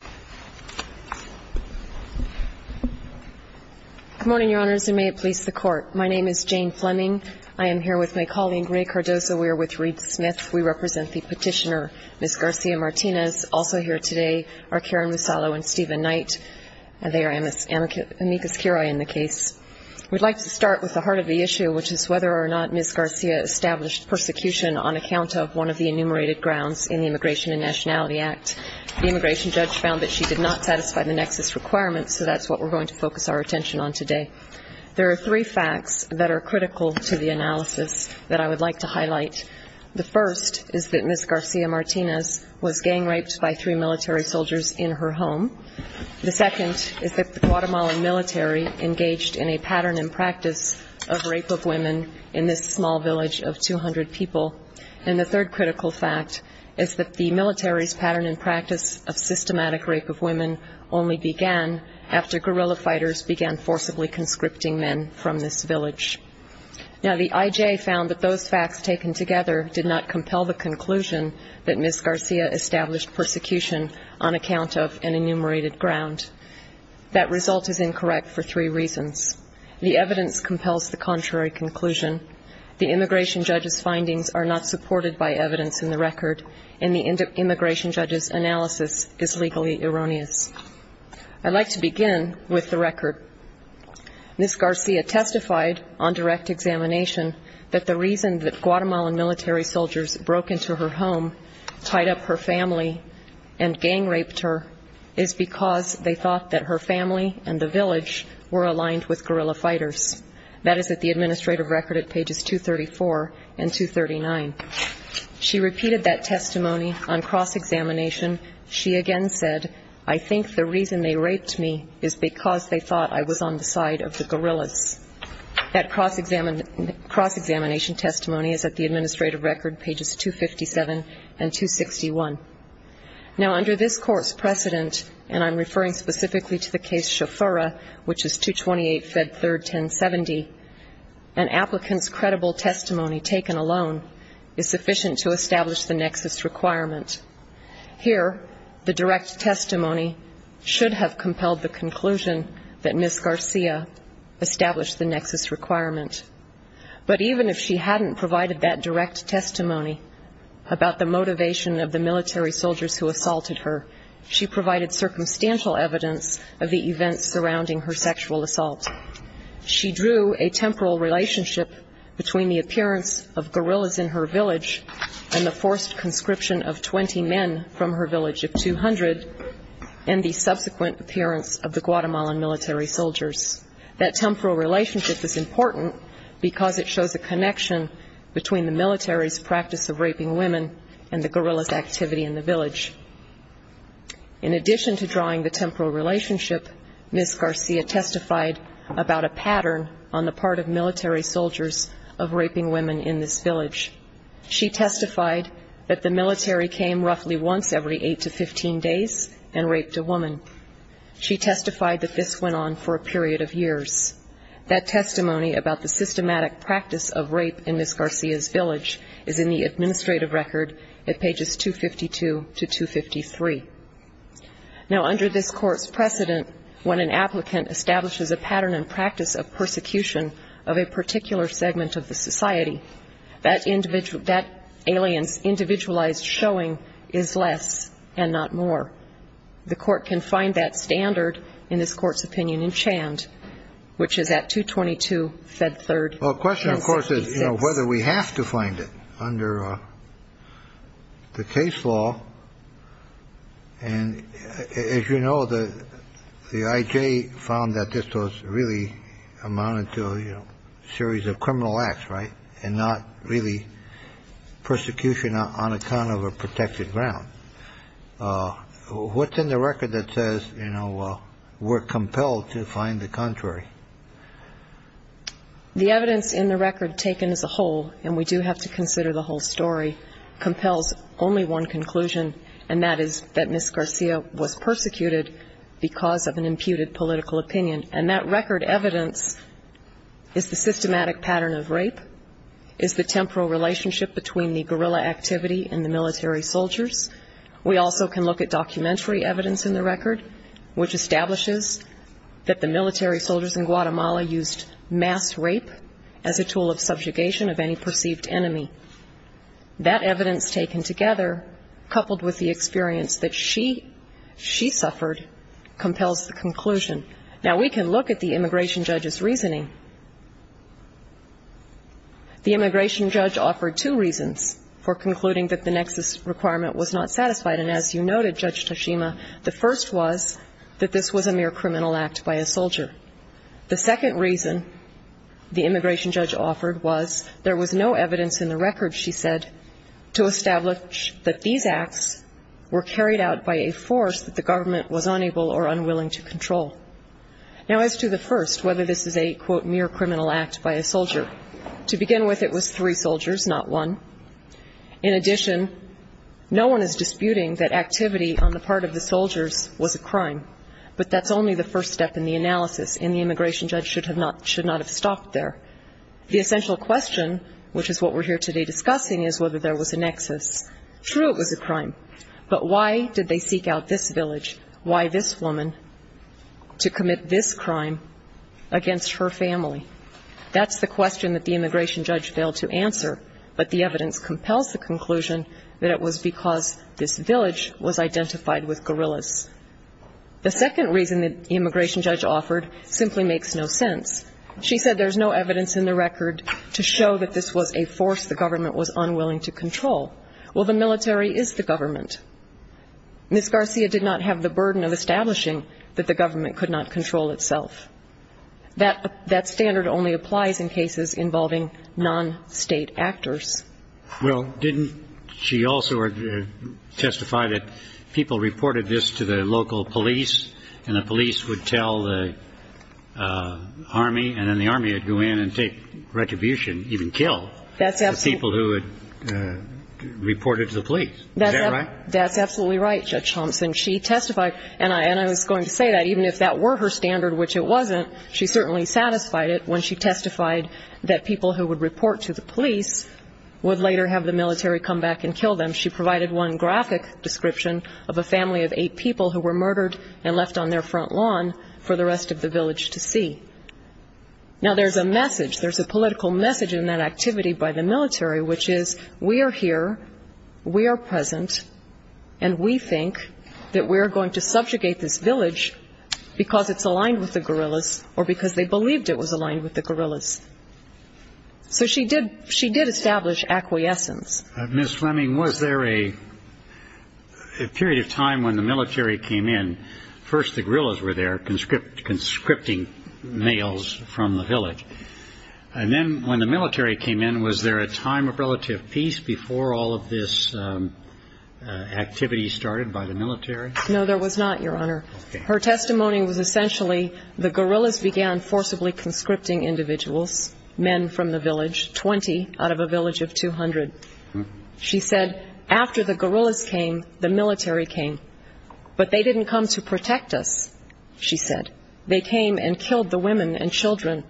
Good morning, your honors, and may it please the court. My name is Jane Fleming. I am here with my colleague Ray Cardozo. We are with Reed Smith. We represent the petitioner, Ms. Garcia-Martinez. Also here today are Karen Musalo and Stephen Knight, and they are amicus curiae in the case. We'd like to start with the heart of the issue, which is whether or not Ms. Garcia established persecution on account of one of the enumerated grounds in the Immigration and Nationality Act. The immigration judge found that she did not satisfy the nexus requirements, so that's what we're going to focus our attention on today. There are three facts that are critical to the analysis that I would like to highlight. The first is that Ms. Garcia-Martinez was gang raped by three military soldiers in her home. The second is that the Guatemalan military engaged in a pattern and practice of rape of women in this small village of 200 people. And the third critical fact is that the military's pattern and practice of systematic rape of women only began after guerrilla fighters began forcibly conscripting men from this village. Now, the IJ found that those facts taken together did not compel the conclusion that Ms. Garcia established persecution on account of an enumerated ground. That result is incorrect for three reasons. The evidence compels the contrary conclusion. The immigration judge's findings are not supported by evidence in the record, and the immigration judge's analysis is legally erroneous. I'd like to begin with the record. Ms. Garcia testified on direct examination that the reason that Guatemalan military soldiers broke into her home, tied up her family, and gang raped her is because they thought that her family and the village were aligned with guerrilla fighters. That is at the administrative record at pages 234 and 239. She repeated that testimony on cross-examination. She again said, I think the reason they raped me is because they thought I was on the side of the guerrillas. That cross-examination testimony is at the administrative record, pages 257 and 261. Now, under this Court's precedent, and I'm referring specifically to the case Shofura, which is 228 Fed 3rd, 1070, an applicant's credible testimony taken alone is sufficient to establish the nexus requirement. Here, the direct testimony should have compelled the conclusion that Ms. Garcia established the nexus requirement. But even if she hadn't provided that direct testimony about the motivation of the military soldiers who assaulted her, she provided circumstantial evidence of the events surrounding her sexual assault. She drew a temporal relationship between the appearance of guerrillas in her village and the forced conscription of 20 men from her village of 200, and the subsequent appearance of the Guatemalan military soldiers. That temporal relationship is important because it shows a connection between the military's practice of raping women and the guerrillas' activity in the village. In addition to drawing the temporal relationship, Ms. Garcia testified about a pattern on the part of military soldiers of raping women in this village. She testified that the military came roughly once every 8 to 15 days and raped a woman. She testified that this went on for a period of years. That testimony about the systematic practice of rape in Ms. Garcia's village is in the administrative record at pages 252 to 253. Now, under this court's precedent, when an applicant establishes a pattern and practice of persecution of a particular segment of the society, that alien's individualized showing is less and not more. The court can find that standard in this court's opinion in Chand, which is at 222-Fed3-SB6. The question, of course, is whether we have to find it under the case law. And as you know, the IJ found that this was really amounted to a series of criminal acts, right, and not really persecution on account of a protected ground. What's in the record that says, you know, we're compelled to find the contrary? The evidence in the record taken as a whole, and we do have to consider the whole story, compels only one conclusion, and that is that Ms. Garcia was persecuted because of an imputed temporal relationship between the guerrilla activity and the military soldiers. We also can look at documentary evidence in the record, which establishes that the military soldiers in Guatemala used mass rape as a tool of subjugation of any perceived enemy. That evidence taken together, coupled with the experience that she suffered, compels the conclusion. Now, we can look at the immigration judge's reasoning. The immigration judge offered two reasons for concluding that the Nexus requirement was not satisfied. And as you noted, Judge Tashima, the first was that this was a mere criminal act by a soldier. The second reason the immigration judge offered was there was no evidence in the record, she said, to establish that these acts were carried out by a force that the government was unable or unwilling to control. Now as to the first, whether this is a, quote, mere criminal act by a soldier, to begin with it was three soldiers, not one. In addition, no one is disputing that activity on the part of the soldiers was a crime, but that's only the first step in the analysis, and the immigration judge should not have stopped there. The essential question, which is what we're here today discussing, is whether there was a Nexus. True, it was a crime, but why did they seek out this village? Why this woman to commit this crime against her family? That's the question that the immigration judge failed to answer, but the evidence compels the conclusion that it was because this village was identified with guerrillas. The second reason that the immigration judge offered simply makes no sense. She said there's no evidence in the record to show that this was a force the government was unwilling to control. It was a burden of establishing that the government could not control itself. That standard only applies in cases involving non-state actors. Well, didn't she also testify that people reported this to the local police, and the police would tell the Army, and then the Army would go in and take retribution, even kill the people who had reported to the police. Is that right? That's absolutely right, Judge Thompson. She testified, and I was going to say that even if that were her standard, which it wasn't, she certainly satisfied it when she testified that people who would report to the police would later have the military come back and kill them. She provided one graphic description of a family of eight people who were murdered and left on their front lawn for the rest of the village to see. Now there's a message, there's a political message in that activity by the military, which is, we are here, we are present, and we think that we are going to subjugate this village because it's aligned with the guerrillas, or because they believed it was aligned with the guerrillas. So she did establish acquiescence. Ms. Fleming, was there a period of time when the military came in, first the guerrillas were there conscripting males from the village, and then when the military came in, was there a time of relative peace before all of this activity started by the military? No, there was not, Your Honor. Her testimony was essentially, the guerrillas began forcibly conscripting individuals, men from the village, 20 out of a village of 200. She said, after the guerrillas came, the military came. But they didn't come to protect us, she said. They came and killed the women and children,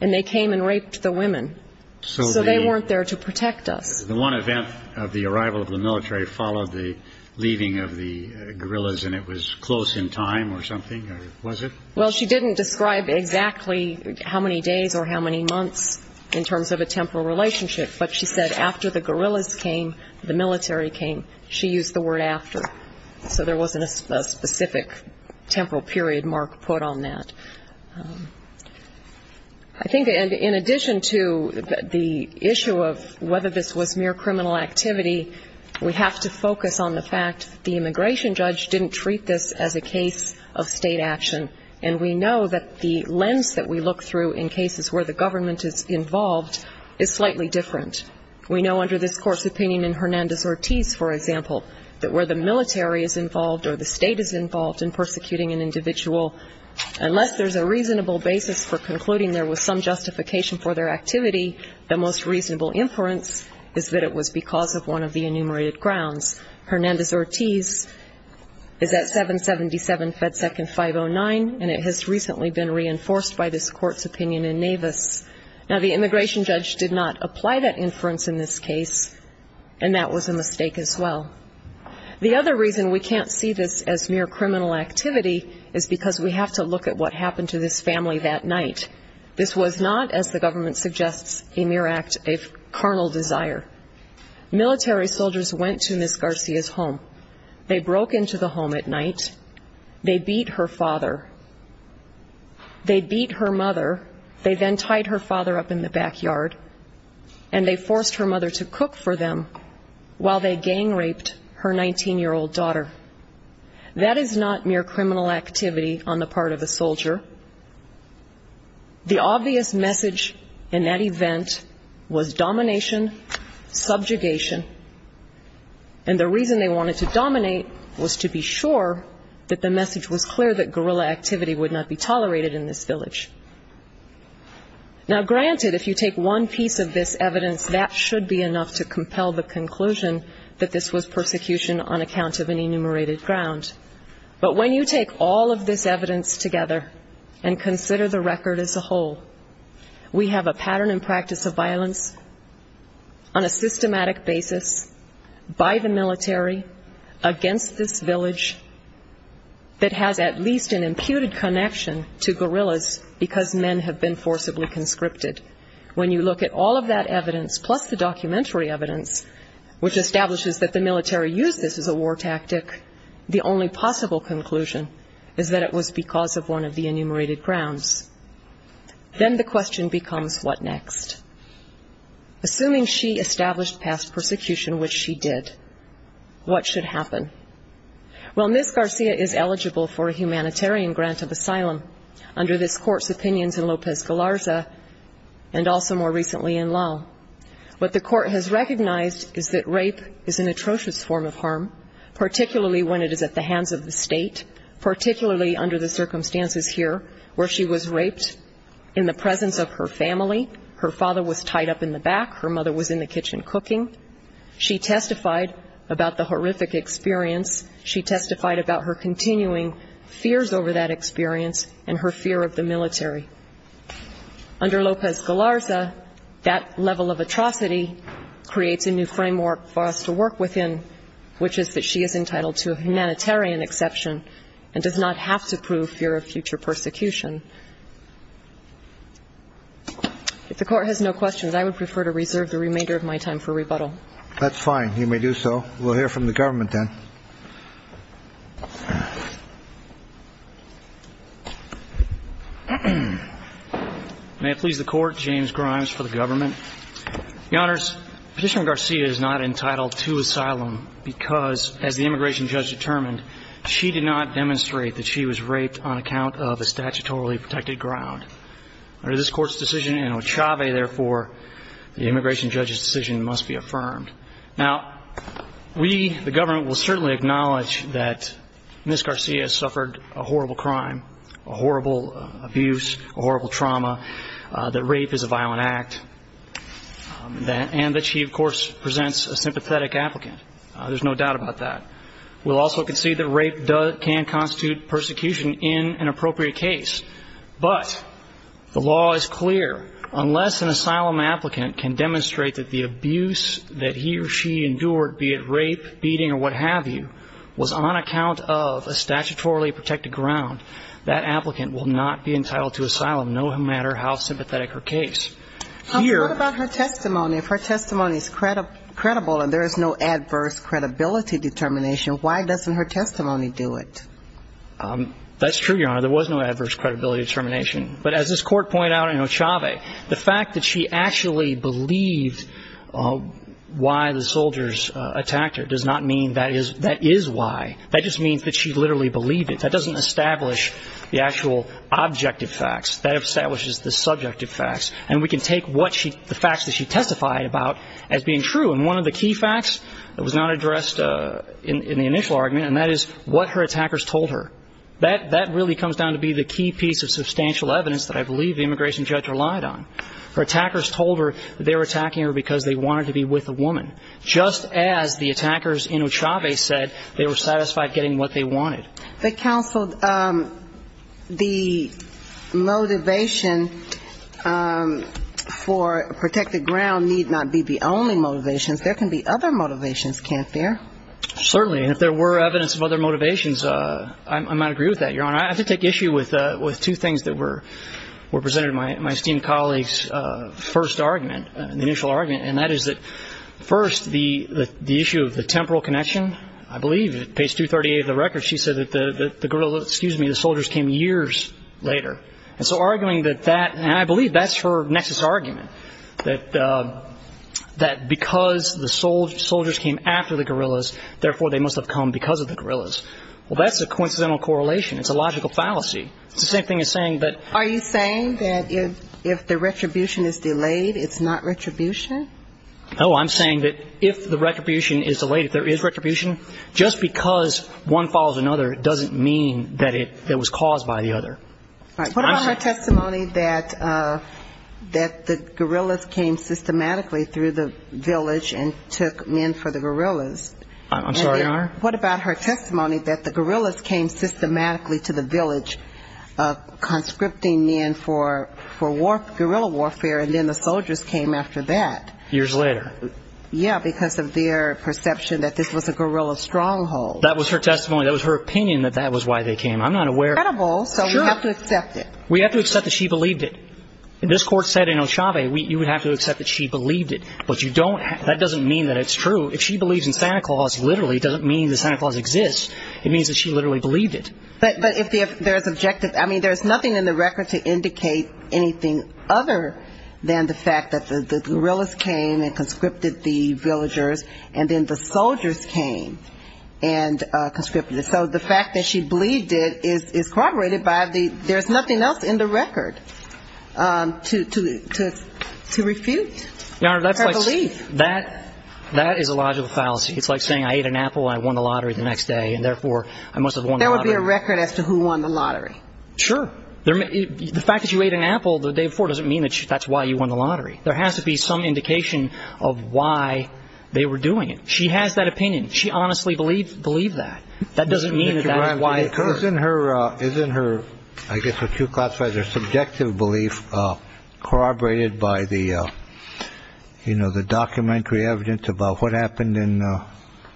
and they came and raped the women. So they weren't there to protect us. The one event of the arrival of the military followed the leaving of the guerrillas, and it was close in time or something, or was it? Well, she didn't describe exactly how many days or how many months in terms of a temporal relationship, but she said, after the guerrillas came, the military came, she used the word after. So there wasn't a specific temporal period mark put on that. I think in addition to the issue of whether this was mere criminal activity, we have to focus on the fact that the immigration judge didn't treat this as a case of state action. And we know that the lens that we look through in cases where the government is involved is slightly different. We know under this Court's opinion in Hernandez-Ortiz, for example, that where the military is involved or the state is involved in persecuting an individual, unless there's a reasonable basis for concluding there was some justification for their activity, the most reasonable inference is that it was because of one of the enumerated grounds. Hernandez-Ortiz is at 777 FedSec and 509, and it has recently been reinforced by this Court's opinion in Navis. Now, the immigration judge did not apply that inference in this case, and that was a mistake as well. The other reason we can't see this as mere criminal activity is because we have to look at what happened to this family that night. This was not, as the government suggests, a mere act of carnal desire. Military soldiers went to Ms. Garcia's home. They broke into the home at night. They beat her father. They beat her mother. They then tied her father up in the backyard, and they forced her mother to cook for them while they gang-raped her 19-year-old daughter. That is not mere criminal activity on the part of a soldier. The obvious message in that event was domination, subjugation, and the reason they wanted to dominate was to be sure that the message was clear that guerrilla activity would not be tolerated in this village. Now, granted, if you take one piece of this evidence, that should be enough to compel the conclusion that this was persecution on account of an enumerated ground, but when you take all of this evidence together and consider the record as a whole, we have a pattern and practice of violence on a systematic basis by the military against this village that has at least an imputed connection to guerrillas because men have been forcibly conscripted. When you look at all of that evidence plus the documentary evidence which establishes that the military used this as a war tactic, the only possible conclusion is that it was because of one of the enumerated grounds. Then the question becomes what next? Assuming she established past persecution, which she did, what should happen? Well, Ms. Garcia is eligible for a humanitarian grant of asylum under this court's opinions in Lopez-Galarza and also more recently in law. What the court has recognized is that rape is an atrocious form of harm, particularly when it is at the hands of the state, particularly under the circumstances here where she was raped in the presence of her family. Her father was tied up in the back. Her mother was in the kitchen cooking. She testified about the horrific experience. She testified about her continuing fears over that experience and her fear of the military. Under Lopez-Galarza, that level of atrocity creates a new framework for us to work within, which is that she is entitled to a humanitarian exception and does not have to prove fear of future persecution. If the court has no questions, I would prefer to reserve the remainder of my time for rebuttal. That's fine. You may do so. We'll hear from the government then. May it please the Court, James Grimes for the government. Your Honors, Petitioner Garcia is not entitled to asylum because, as the immigration judge determined, she did not demonstrate that she was raped on account of a statutorily protected ground. Under this law, the government will certainly acknowledge that Ms. Garcia suffered a horrible crime, a horrible abuse, a horrible trauma, that rape is a violent act, and that she of course presents a sympathetic applicant. There's no doubt about that. We'll also concede that rape can constitute persecution in an appropriate case. But the law is clear. Unless an asylum applicant can demonstrate that the abuse that he or she endured, be it rape, beating, or what have you, was on account of a statutorily protected ground, that applicant will not be entitled to asylum, no matter how sympathetic her case. But what about her testimony? If her testimony is credible and there is no adverse credibility determination, why doesn't her testimony do it? That's true, Your Honor. There was no adverse credibility determination. But as this Court pointed out in Ochave, the fact that she actually believed why the soldiers attacked her does not mean that is why. That just means that she literally believed it. That doesn't establish the actual objective facts. That establishes the subjective facts. And we can take what she the facts that she testified about as being true. And one of the key facts that was not addressed in the initial argument, and that is what her attackers told her. That the immigration judge relied on. Her attackers told her that they were attacking her because they wanted to be with a woman. Just as the attackers in Ochave said they were satisfied getting what they wanted. But counsel, the motivation for protected ground need not be the only motivations. There can be other motivations, can't there? Certainly. And if there were evidence of other motivations, I might agree with that, Your Honor. Representative, my esteemed colleague's first argument, initial argument, and that is that first, the issue of the temporal connection, I believe, page 238 of the record, she said that the guerrilla, excuse me, the soldiers came years later. And so arguing that that, and I believe that's her nexus argument. That because the soldiers came after the guerrillas, therefore they must have come because of the guerrillas. Well, that's a coincidental correlation. It's a logical fallacy. It's the same thing as saying that Are you saying that if the retribution is delayed, it's not retribution? No, I'm saying that if the retribution is delayed, if there is retribution, just because one follows another doesn't mean that it was caused by the other. What about her testimony that the guerrillas came systematically through the village and took men for the guerrillas? I'm sorry, Your Honor? What about her testimony that the guerrillas came systematically to the village conscripting men for guerrilla warfare, and then the soldiers came after that? Years later. Yeah, because of their perception that this was a guerrilla stronghold. That was her testimony. That was her opinion that that was why they came. I'm not aware It's credible, so we have to accept it. We have to accept that she believed it. This Court said in Ochave, you would have to accept that she believed it. But you don't, that doesn't mean that it's true. If she believes in Santa Claus, literally, it doesn't mean that Santa Claus exists. It means that she literally believed it. But if there's objective, I mean, there's nothing in the record to indicate anything other than the fact that the guerrillas came and conscripted the villagers, and then the soldiers came and conscripted. So the fact that she believed it is corroborated by the, there's nothing else in the record to refute her belief. That is a logical fallacy. It's like saying, I ate an apple and I won the lottery the next day, and therefore I must have won the lottery. There would be a record as to who won the lottery. Sure. The fact that you ate an apple the day before doesn't mean that that's why you won the lottery. There has to be some indication of why they were doing it. She has that opinion. She honestly believed that. That doesn't mean that that is why it occurred. Mr. Bramson, isn't her, I guess what you've classified as her subjective belief corroborated by the, you know, the documentary evidence about what happened in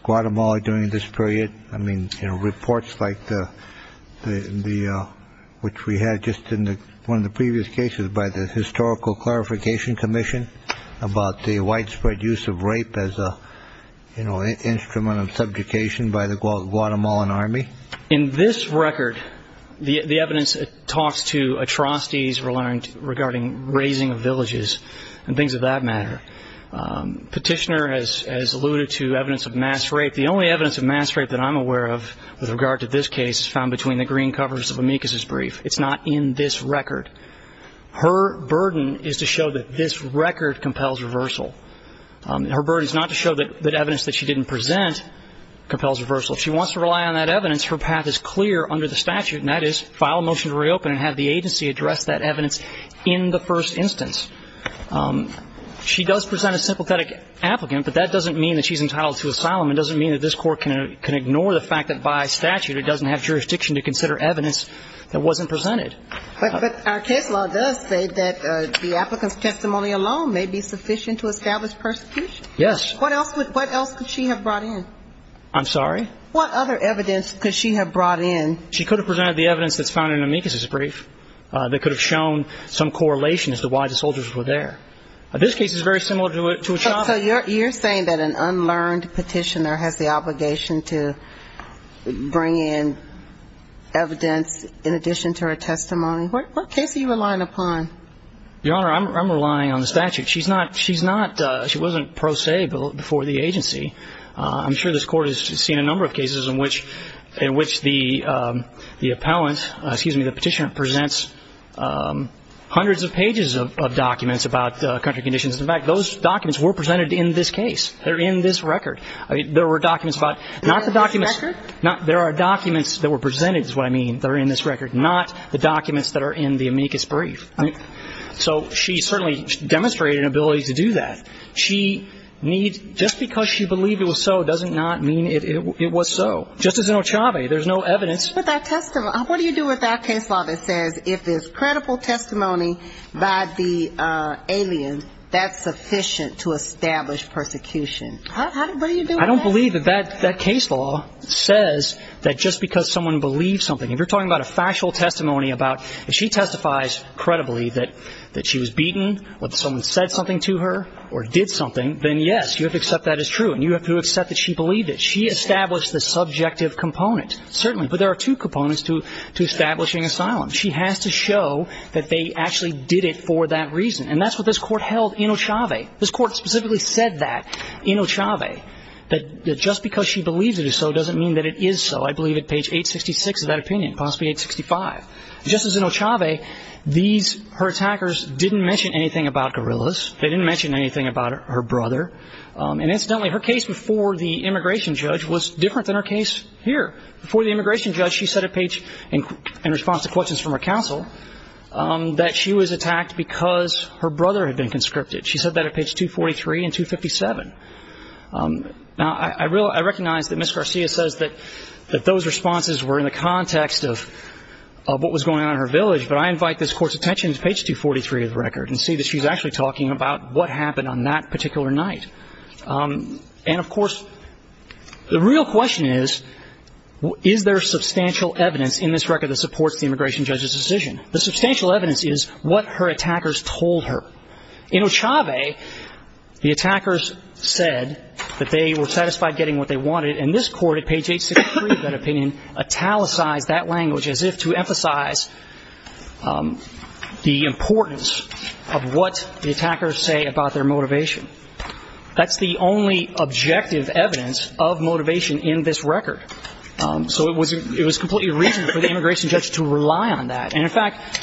Guatemala during this period? I mean, you know, reports like the, which we had just in one of the previous cases by the Historical Clarification Commission about the widespread use of rape as a, you know, instrument of subjugation by the Guatemalan army. In this record, the evidence talks to atrocities regarding razing of villages and things of that matter. Petitioner has alluded to evidence of mass rape. The only evidence of mass rape that I'm aware of with regard to this case is found between the green covers of Amikus's brief. It's not in this record. Her burden is to show that this record compels reversal. Her burden is not to show that evidence that she didn't present compels reversal. If she wants to rely on that evidence, her path is clear under the statute, and that is file a motion to reopen and have the agency address that evidence in the first instance. She does present a sympathetic applicant, but that doesn't mean that she's entitled to asylum. It doesn't mean that this court can ignore the fact that by statute it doesn't have jurisdiction to consider evidence that wasn't presented. But our case law does say that the applicant's testimony alone may be sufficient to establish persecution. Yes. What else could she have brought in? I'm sorry? What other evidence could she have brought in? She could have presented the evidence that's found in Amikus's brief that could have shown some correlation as to why the soldiers were there. This case is very similar to a chopper. So you're saying that an unlearned petitioner has the obligation to bring in evidence in addition to her testimony? What case are you relying upon? Your Honor, I'm relying on the statute. She's not, she doesn't have the ability to do that. I'm sure this Court has seen a number of cases in which the appellant, excuse me, the petitioner presents hundreds of pages of documents about country conditions. In fact, those documents were presented in this case. They're in this record. There were documents about, not the documents, there are documents that were presented is what I mean. They're in this record. Not the documents that are in the Amikus brief. So she certainly demonstrated an ability to do that. She needs, just because she believed it was so doesn't not mean it was so. Just as in Ochave, there's no evidence. But that testimony, what do you do with that case law that says if it's credible testimony by the alien, that's sufficient to establish persecution? What do you do with that? I don't believe that that case law says that just because someone believes something. If you're talking about a factual testimony about, if she testifies credibly that she was beaten, or that someone said something to her, or did something, then yes, you have to accept that is true. And you have to accept that she believed it. She established the subjective component. Certainly. But there are two components to establishing asylum. She has to show that they actually did it for that reason. And that's what this Court held in Ochave. This Court specifically said that in Ochave. That just because she believes it is so doesn't mean that it is so. I believe at page 866 of that opinion. Possibly 865. Just as in Ochave, these, her attackers didn't mention anything about gorillas. They didn't mention anything about her brother. And incidentally, her case before the immigration judge was different than her case here. Before the immigration judge, she said at page, in response to questions from her counsel, that she was attacked because her brother had been conscripted. She said that at page 243 and 257. Now, I recognize that Ms. Garcia says that those responses were in the context of what was going on in her village. But I invite this Court's attention to page 243 of the record and see that she's actually talking about what happened on that particular night. And of course, the real question is, is there substantial evidence in this record that supports the immigration judge's decision? The substantial evidence is what her attackers told her. In Ochave, the attackers said that they were satisfied getting what they wanted. And this Court at page 863 of that opinion italicized that language as if to emphasize the importance of what the attackers say about their motivation. That's the only objective evidence of motivation in this record. So it was completely reason for the immigration judge to rely on that. And in fact,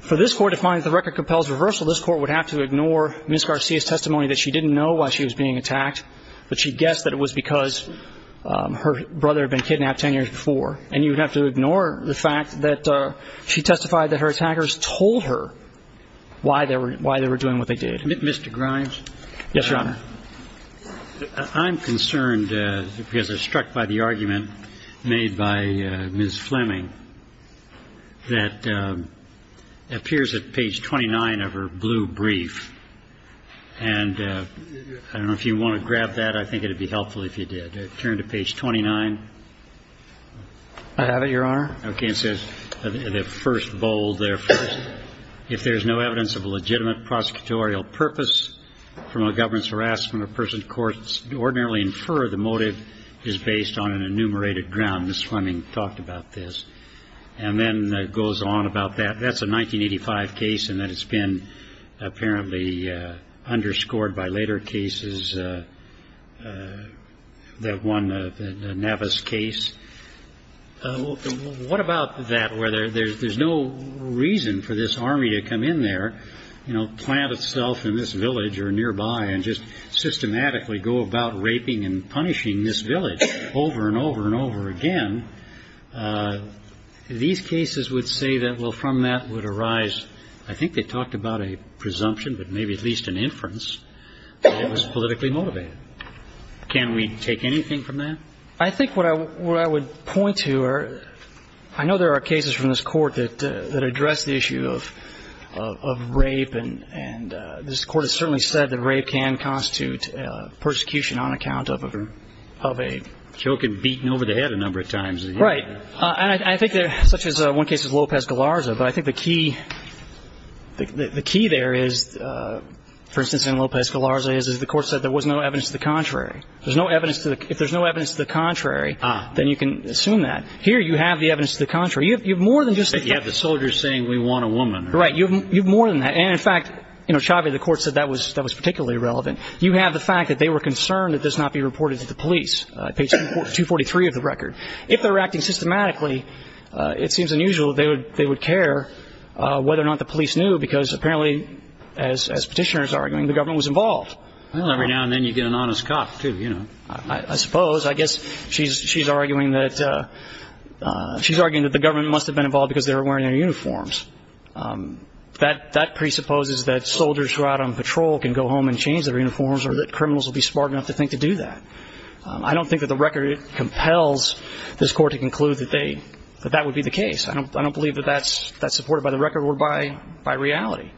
for this Court to find that the record compels reversal, this Court would have to ignore Ms. Garcia's testimony that she didn't know why she was being attacked, but she guessed that it was because her brother had been kidnapped 10 years before. And you would have to ignore the fact that she testified that her attackers told her why they were doing what they did. Mr. Grimes? Yes, Your Honor. I'm concerned because I was struck by the argument made by Ms. Fleming that appears at page 29 of her blue brief. And I don't know if you want to grab that. I think it would be helpful if you did. Turn to page 29. I have it, Your Honor. Okay. It says in the first bold there, if there is no evidence of a legitimate prosecutorial purpose from a government's harassment of persons, courts ordinarily infer the motive is based on an enumerated ground. Ms. Fleming talked about this. And then it goes on about that. That's a 1985 case in that it's been apparently underscored by later cases. And that one, the Navis case. What about that, where there's no reason for this army to come in there, plant itself in this village or nearby, and just systematically go about raping and punishing this village over and over and over again? These cases would say that, well, from that would arise, I think they talked about a presumption, but maybe at least an assumption. Can we take anything from that? I think what I would point to are, I know there are cases from this Court that address the issue of rape. And this Court has certainly said that rape can constitute persecution on account of a choke and beating over the head a number of times. Right. And I think such as one case as Lopez-Galarza. But I think the key there is, for instance in Lopez-Galarza, is the Court said there was no evidence to the contrary. If there's no evidence to the contrary, then you can assume that. Here you have the evidence to the contrary. You have more than just the fact. You have the soldiers saying, we want a woman. Right. You have more than that. And in fact, Chavez, the Court said that was particularly relevant. You have the fact that they were concerned that this not be reported to the police, page 243 of the record. If they were acting systematically, it seems unusual that they would care whether or not the police knew, because apparently, as Petitioner is arguing, the government was involved. Well, every now and then you get an honest cop, too, you know. I suppose. I guess she's arguing that the government must have been involved because they were wearing their uniforms. That presupposes that soldiers who are out on patrol can go home and change their uniforms, or that criminals will be smart enough to think to do that. I don't think that the record compels this Court to conclude that that would be the case. I don't believe that that's supported by the record or by reality.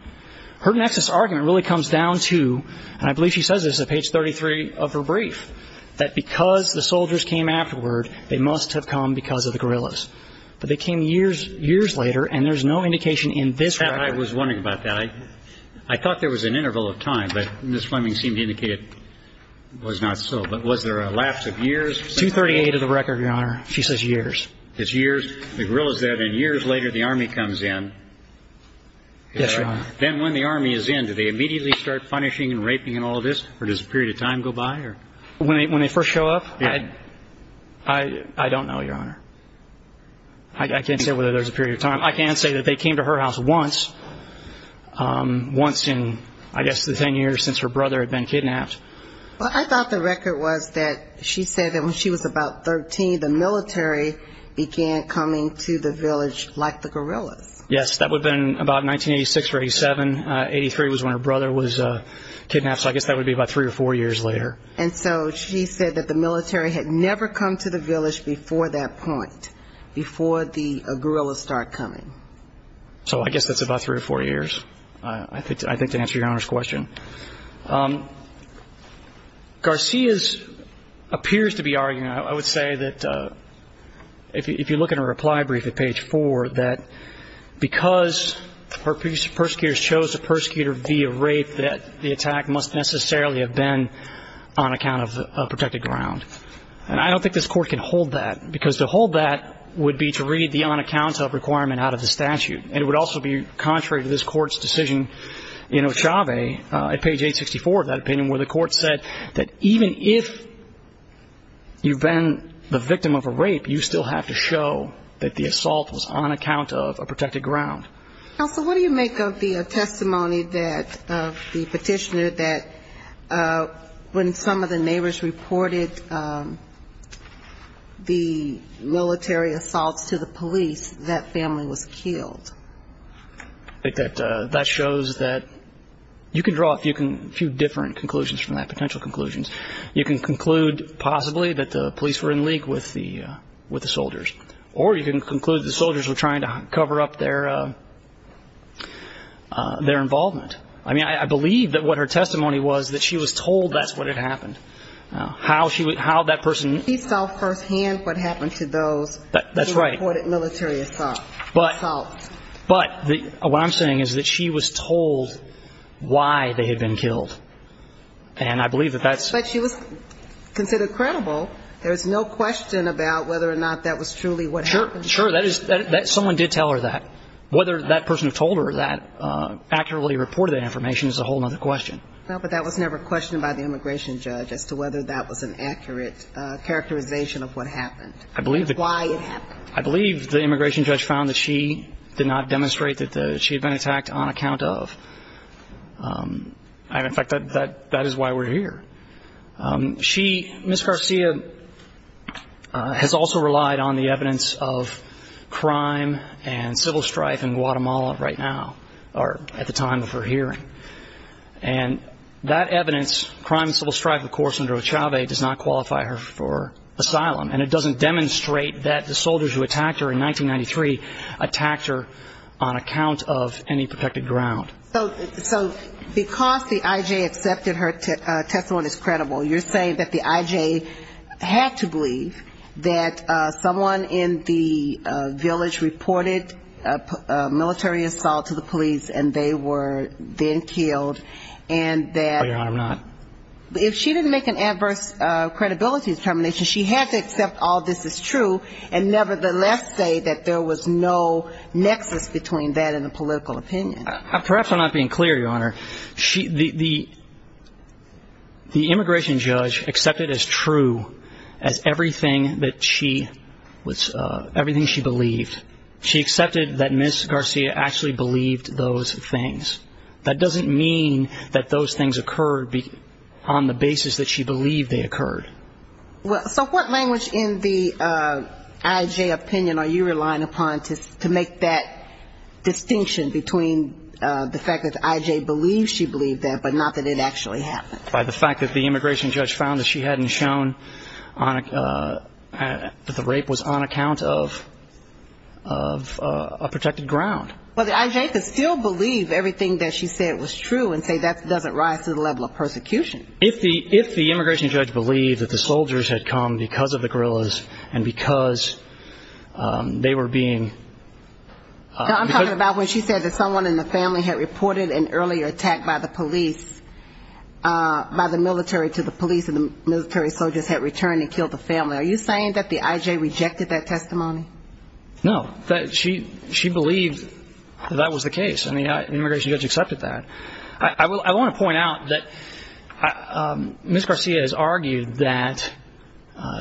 Her nexus argument really comes down to, and I believe she says this at page 33 of her brief, that because the soldiers came afterward, they must have come because of the guerrillas. But they came years later, and there's no indication in this record. I was wondering about that. I thought there was an interval of time, but Ms. Fleming seemed to indicate it was not so. But was there a lapse of years? 238 of the record, Your Honor. She says years. It's years. The guerrilla's there, then years later, the Army comes in. Yes, Your Honor. Then when the Army is in, do they immediately start punishing and raping and all of this, or does a period of time go by? When they first show up, I don't know, Your Honor. I can't say whether there's a period of time. I can say that they came to her house once, once in, I guess, the 10 years since her brother had been kidnapped. Well, I thought the record was that she said that when she was about 13, the military began coming to the village like the guerrillas. Yes, that would have been about 1986 or 87. 83 was when her brother was kidnapped, so I guess that would be about three or four years later. And so she said that the military had never come to the village before that point, before the guerrillas started coming. So I guess that's about three or four years, I think, to answer Your Honor's question. Garcia appears to be arguing, I would say that if you look at her reply brief at page four, that because her persecutors chose the persecutor via rape, that the attack must necessarily have been on account of protected ground. And I don't think this Court can hold that, because to hold that would be to read the on-account-of requirement out of the statute. And it would also be contrary to this Court's decision in Ochave at page 864 of that opinion, where the Court said that even if you've been the victim of a rape, you still have to show that the assault was on account of a protected ground. Counsel, what do you make of the testimony that, of the petitioner, that when some of the neighbors reported the military assaults to the police, that family was killed? That shows that you can draw a few different conclusions from that, potential conclusions. You can conclude, possibly, that the police were in league with the soldiers. Or you can conclude that the soldiers were trying to cover up their involvement. I mean, I believe that what her testimony was, that she was told that's what had happened. How she would – how that person – She saw firsthand what happened to those who reported military assaults. But what I'm saying is that she was told why they had been killed. And I believe that that's – But she was considered credible. There's no question about whether or not that was truly what happened. Sure. Sure. That is – someone did tell her that. Whether that person told her that, accurately reported that information, is a whole other question. No, but that was never questioned by the immigration judge as to whether that was an accurate characterization of what happened. I believe that – Why it happened. I believe the immigration judge found that she did not demonstrate that she had been attacked on account of – and, in fact, that is why we're here. She, Ms. Garcia, has also relied on the evidence of crime and civil strife in Guatemala right now, or at the time of her hearing. And that evidence, crime and civil strife, of course, under Ochave, does not qualify her for asylum. And it doesn't demonstrate that the soldiers who attacked her in 1993 attacked her on account of any protected ground. So, because the IJ accepted her testimony as credible, you're saying that the IJ had to believe that someone in the village reported a military assault to the police and they were then killed and that – No, Your Honor, I'm not. If she didn't make an adverse credibility determination, she had to accept all this is true and nevertheless say that there was no nexus between that and a political opinion. Perhaps I'm not being clear, Your Honor. The immigration judge accepted as true as everything that she – everything she believed. She accepted that Ms. Garcia actually believed those things. That doesn't mean that those things occurred on the basis that she believed they occurred. Well, so what language in the IJ opinion are you relying upon to make that distinction between the fact that the IJ believes she believed that but not that it actually happened? By the fact that the immigration judge found that she hadn't shown that the rape was on account of a protected ground. Well, the IJ could still believe everything that she said was true and say that doesn't rise to the level of persecution. If the immigration judge believed that the soldiers had come because of the guerrillas and because they were being – No, I'm talking about when she said that someone in the family had reported an earlier attack by the police – by the military to the police and the military soldiers had returned and killed the family. Are you saying that the IJ rejected that testimony? No. That she – she believed that that was the case. I mean, the immigration judge accepted that. I will – I want to point out that Ms. Garcia has argued that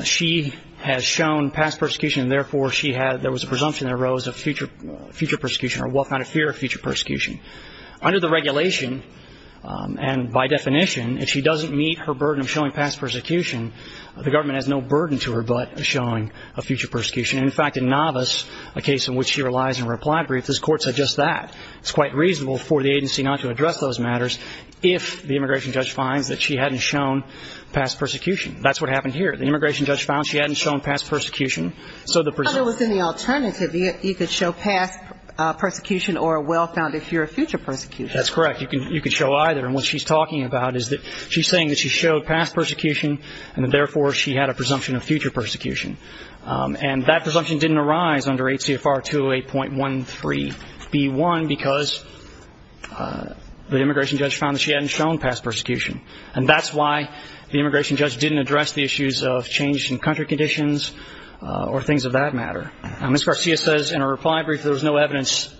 she has shown past persecution and therefore she had – there was a presumption that arose of future persecution or well-founded fear of future persecution. Under the regulation and by definition, if she doesn't meet her burden of showing past persecution, the government has no burden to her but showing a future persecution. In fact, in Navas, a case in which she relies on reply briefs, this Court said just that. It's quite reasonable for the agency not to address those matters if the immigration judge finds that she hadn't shown past persecution. That's what happened here. The immigration judge found she hadn't shown past persecution, so the presumption – But it was in the alternative. You could show past persecution or a well-founded fear of future persecution. That's correct. You can – you could show either. And what she's talking about is that she's saying that she showed past persecution and therefore she had a presumption of future persecution. And that presumption didn't arise under HCFR 208.13b1 because the immigration judge found that she hadn't shown past persecution. And that's why the immigration judge didn't address the issues of change in country conditions or things of that matter. Ms. Garcia says in her reply brief there was no evidence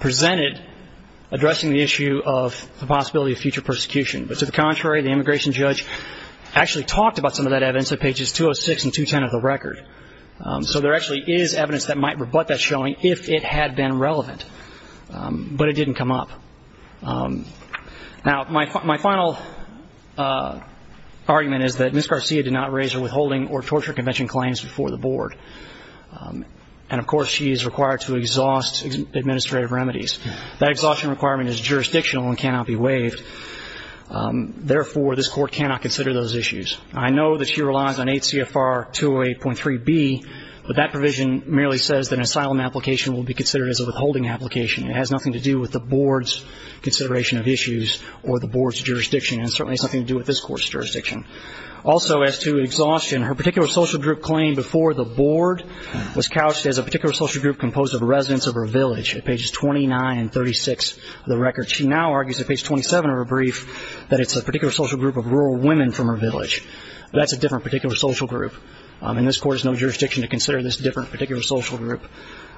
presented addressing the issue of the possibility of future persecution, but to the contrary, the immigration judge actually talked about some of that evidence at pages 206 and 210 of the record. So there actually is evidence that might rebut that showing if it had been relevant, but it didn't come up. Now, my final argument is that Ms. Garcia did not raise her withholding or torture convention claims before the board. And of course, she is required to exhaust administrative remedies. That exhaustion requirement is jurisdictional and cannot be waived. Therefore this court cannot consider those issues. I know that she relies on HCFR 208.3b, but that provision merely says that an asylum application will be considered as a withholding application. It has nothing to do with the board's consideration of issues or the board's jurisdiction, and certainly has nothing to do with this court's jurisdiction. Also as to exhaustion, her particular social group claim before the board was couched as a particular social group composed of residents of her village at pages 29 and 36 of the record. She now argues at page 27 of her brief that it's a particular social group of rural women from her village. But that's a different particular social group, and this court has no jurisdiction to consider this different particular social group.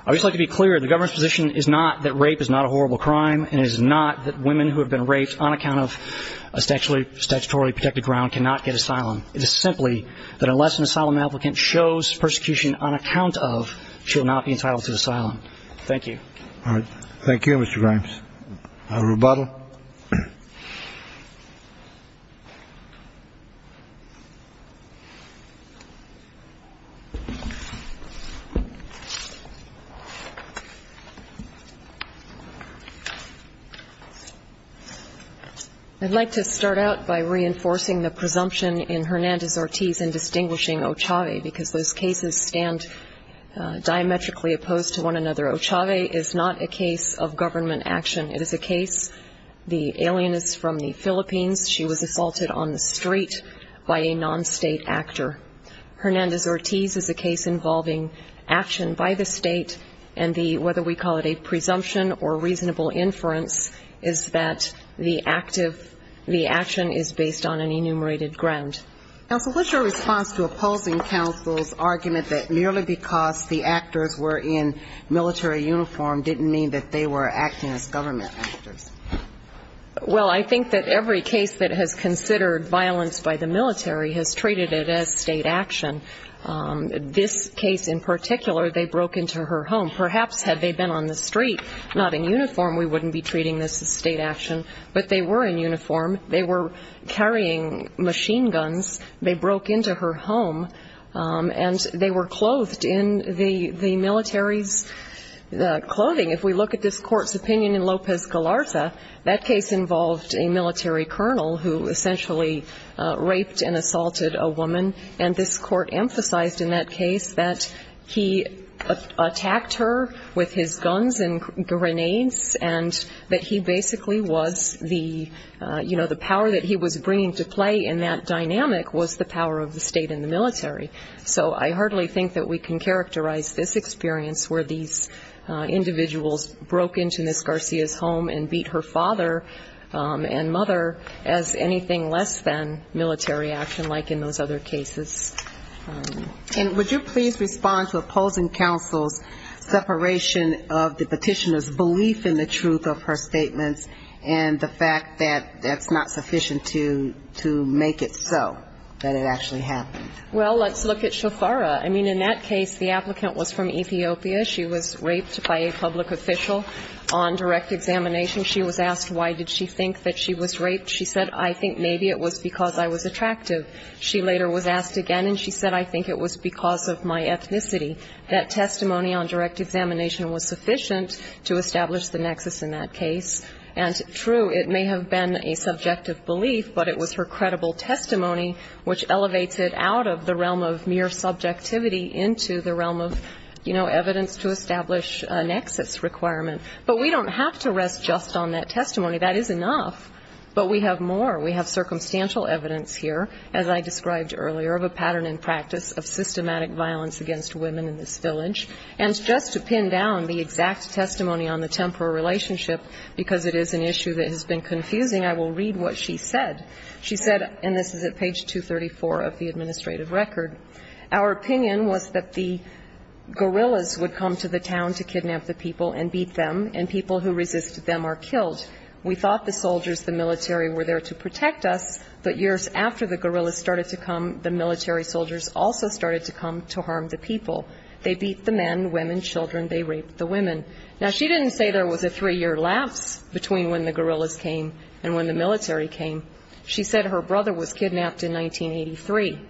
I would just like to be clear, the government's position is not that rape is not a horrible crime and it is not that women who have been raped on account of a statutorily protected ground cannot get asylum. It is simply that unless an asylum applicant shows persecution on account of, she will not be entitled to asylum. Thank you. All right. Thank you, Mr. Grimes. A rebuttal? I'd like to start out by reinforcing the presumption in Hernandez-Ortiz in distinguishing Ochave because those cases stand diametrically opposed to one another. Ochave is not a case of government action. It is a case, the alien is from the Philippines. She was assaulted on the street by a non-state actor. Hernandez-Ortiz is a case involving action by the state, and the, whether we call it a presumption or reasonable inference, is that the action is based on an enumerated ground. Counsel, what's your response to opposing counsel's argument that merely because the Well, I think that every case that has considered violence by the military has treated it as state action. This case in particular, they broke into her home. Perhaps had they been on the street, not in uniform, we wouldn't be treating this as state action, but they were in uniform. They were carrying machine guns. They broke into her home, and they were clothed in the military's clothing. If we look at this court's opinion in Lopez Galarza, that case involved a military colonel who essentially raped and assaulted a woman. And this court emphasized in that case that he attacked her with his guns and grenades and that he basically was the, you know, the power that he was bringing to play in that dynamic was the power of the state and the military. So I hardly think that we can characterize this experience where these individuals broke into Ms. Garcia's home and beat her father and mother as anything less than military action like in those other cases. And would you please respond to opposing counsel's separation of the petitioner's belief in the truth of her statements and the fact that that's not sufficient to make it so that it actually happened? Well, let's look at Shafara. I mean, in that case, the applicant was from Ethiopia. She was raped by a public official on direct examination. She was asked why did she think that she was raped. She said, I think maybe it was because I was attractive. She later was asked again, and she said, I think it was because of my ethnicity. That testimony on direct examination was sufficient to establish the nexus in that case. And true, it may have been a subjective belief, but it was her credible testimony which elevated out of the realm of mere subjectivity into the realm of, you know, evidence to establish a nexus requirement. But we don't have to rest just on that testimony. That is enough. But we have more. We have circumstantial evidence here, as I described earlier, of a pattern in practice of systematic violence against women in this village. And just to pin down the exact testimony on the temporal relationship, because it is an issue that has been confusing, I will read what she said. She said, and this is at page 234 of the administrative record, our opinion was that the guerrillas would come to the town to kidnap the people and beat them, and people who resisted them are killed. We thought the soldiers, the military, were there to protect us, but years after the guerrillas started to come, the military soldiers also started to come to harm the people. They beat the men, women, children. They raped the women. Now, she didn't say there was a three-year lapse between when the guerrillas came and when the military came. She said her brother was kidnapped in 1983.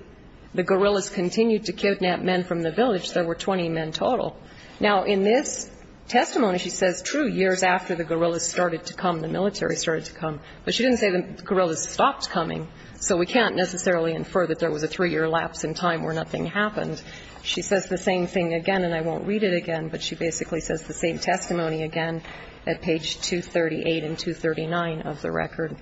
The guerrillas continued to kidnap men from the village. There were 20 men total. Now, in this testimony, she says, true, years after the guerrillas started to come, the military started to come. But she didn't say the guerrillas stopped coming, so we can't necessarily infer that there was a three-year lapse in time where nothing happened. She says the same thing again, and I won't read it again, but she basically says the same testimony again at page 238 and 239 of the record.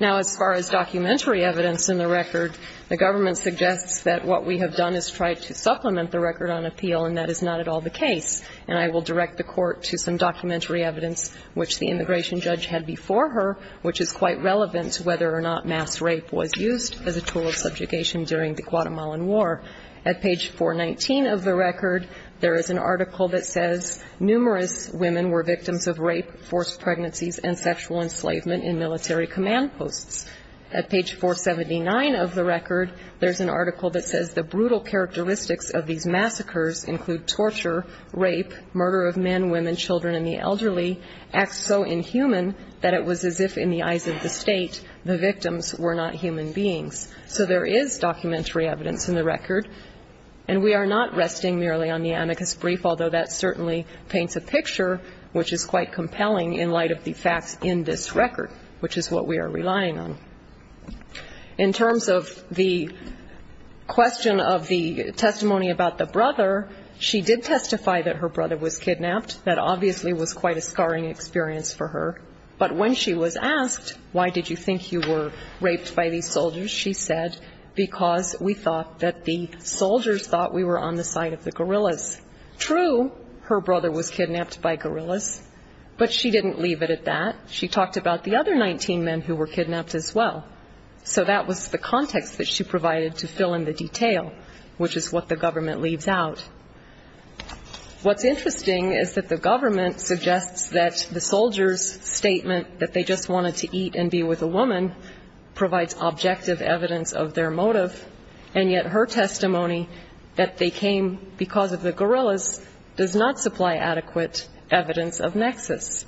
Now, as far as documentary evidence in the record, the government suggests that what we have done is try to supplement the record on appeal, and that is not at all the case. And I will direct the court to some documentary evidence, which the immigration judge had before her, which is quite relevant to whether or not mass rape was used as a tool of subjugation during the Guatemalan War. At page 419 of the record, there is an article that says numerous women were victims of rape, forced pregnancies, and sexual enslavement in military command posts. At page 479 of the record, there is an article that says the brutal characteristics of these massacres include torture, rape, murder of men, women, children, and the elderly, acts so inhuman that it was as if, in the eyes of the state, the victims were not human beings. So there is documentary evidence in the record. And we are not resting merely on the amicus brief, although that certainly paints a picture which is quite compelling in light of the facts in this record, which is what we are relying on. In terms of the question of the testimony about the brother, she did testify that her brother was kidnapped. That obviously was quite a scarring experience for her. But when she was asked, why did you think you were raped by these soldiers? She said, because we thought that the soldiers thought we were on the side of the guerrillas. True, her brother was kidnapped by guerrillas, but she didn't leave it at that. She talked about the other 19 men who were kidnapped as well. So that was the context that she provided to fill in the detail, which is what the government leaves out. What's interesting is that the government suggests that the soldiers' statement that they just wanted to eat and be with a woman provides objective evidence of their motive, and yet her testimony that they came because of the guerrillas does not supply adequate evidence of nexus.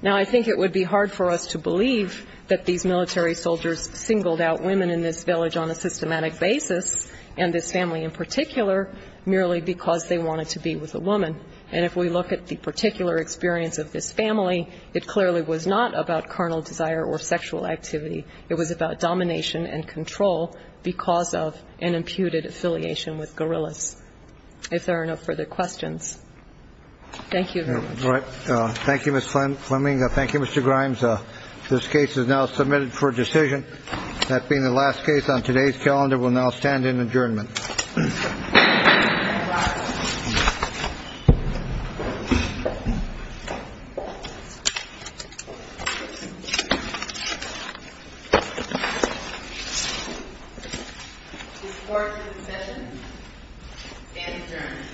Now I think it would be hard for us to believe that these military soldiers singled out women in this village on a systematic basis, and this family in particular, merely because they wanted to be with a woman. And if we look at the particular experience of this family, it clearly was not about carnal desire or sexual activity. It was about domination and control because of an imputed affiliation with guerrillas. If there are no further questions. Thank you very much. All right. Thank you, Ms. Fleming. Thank you, Mr. Grimes. This case is now submitted for decision. That being the last case on today's calendar, we'll now stand in adjournment.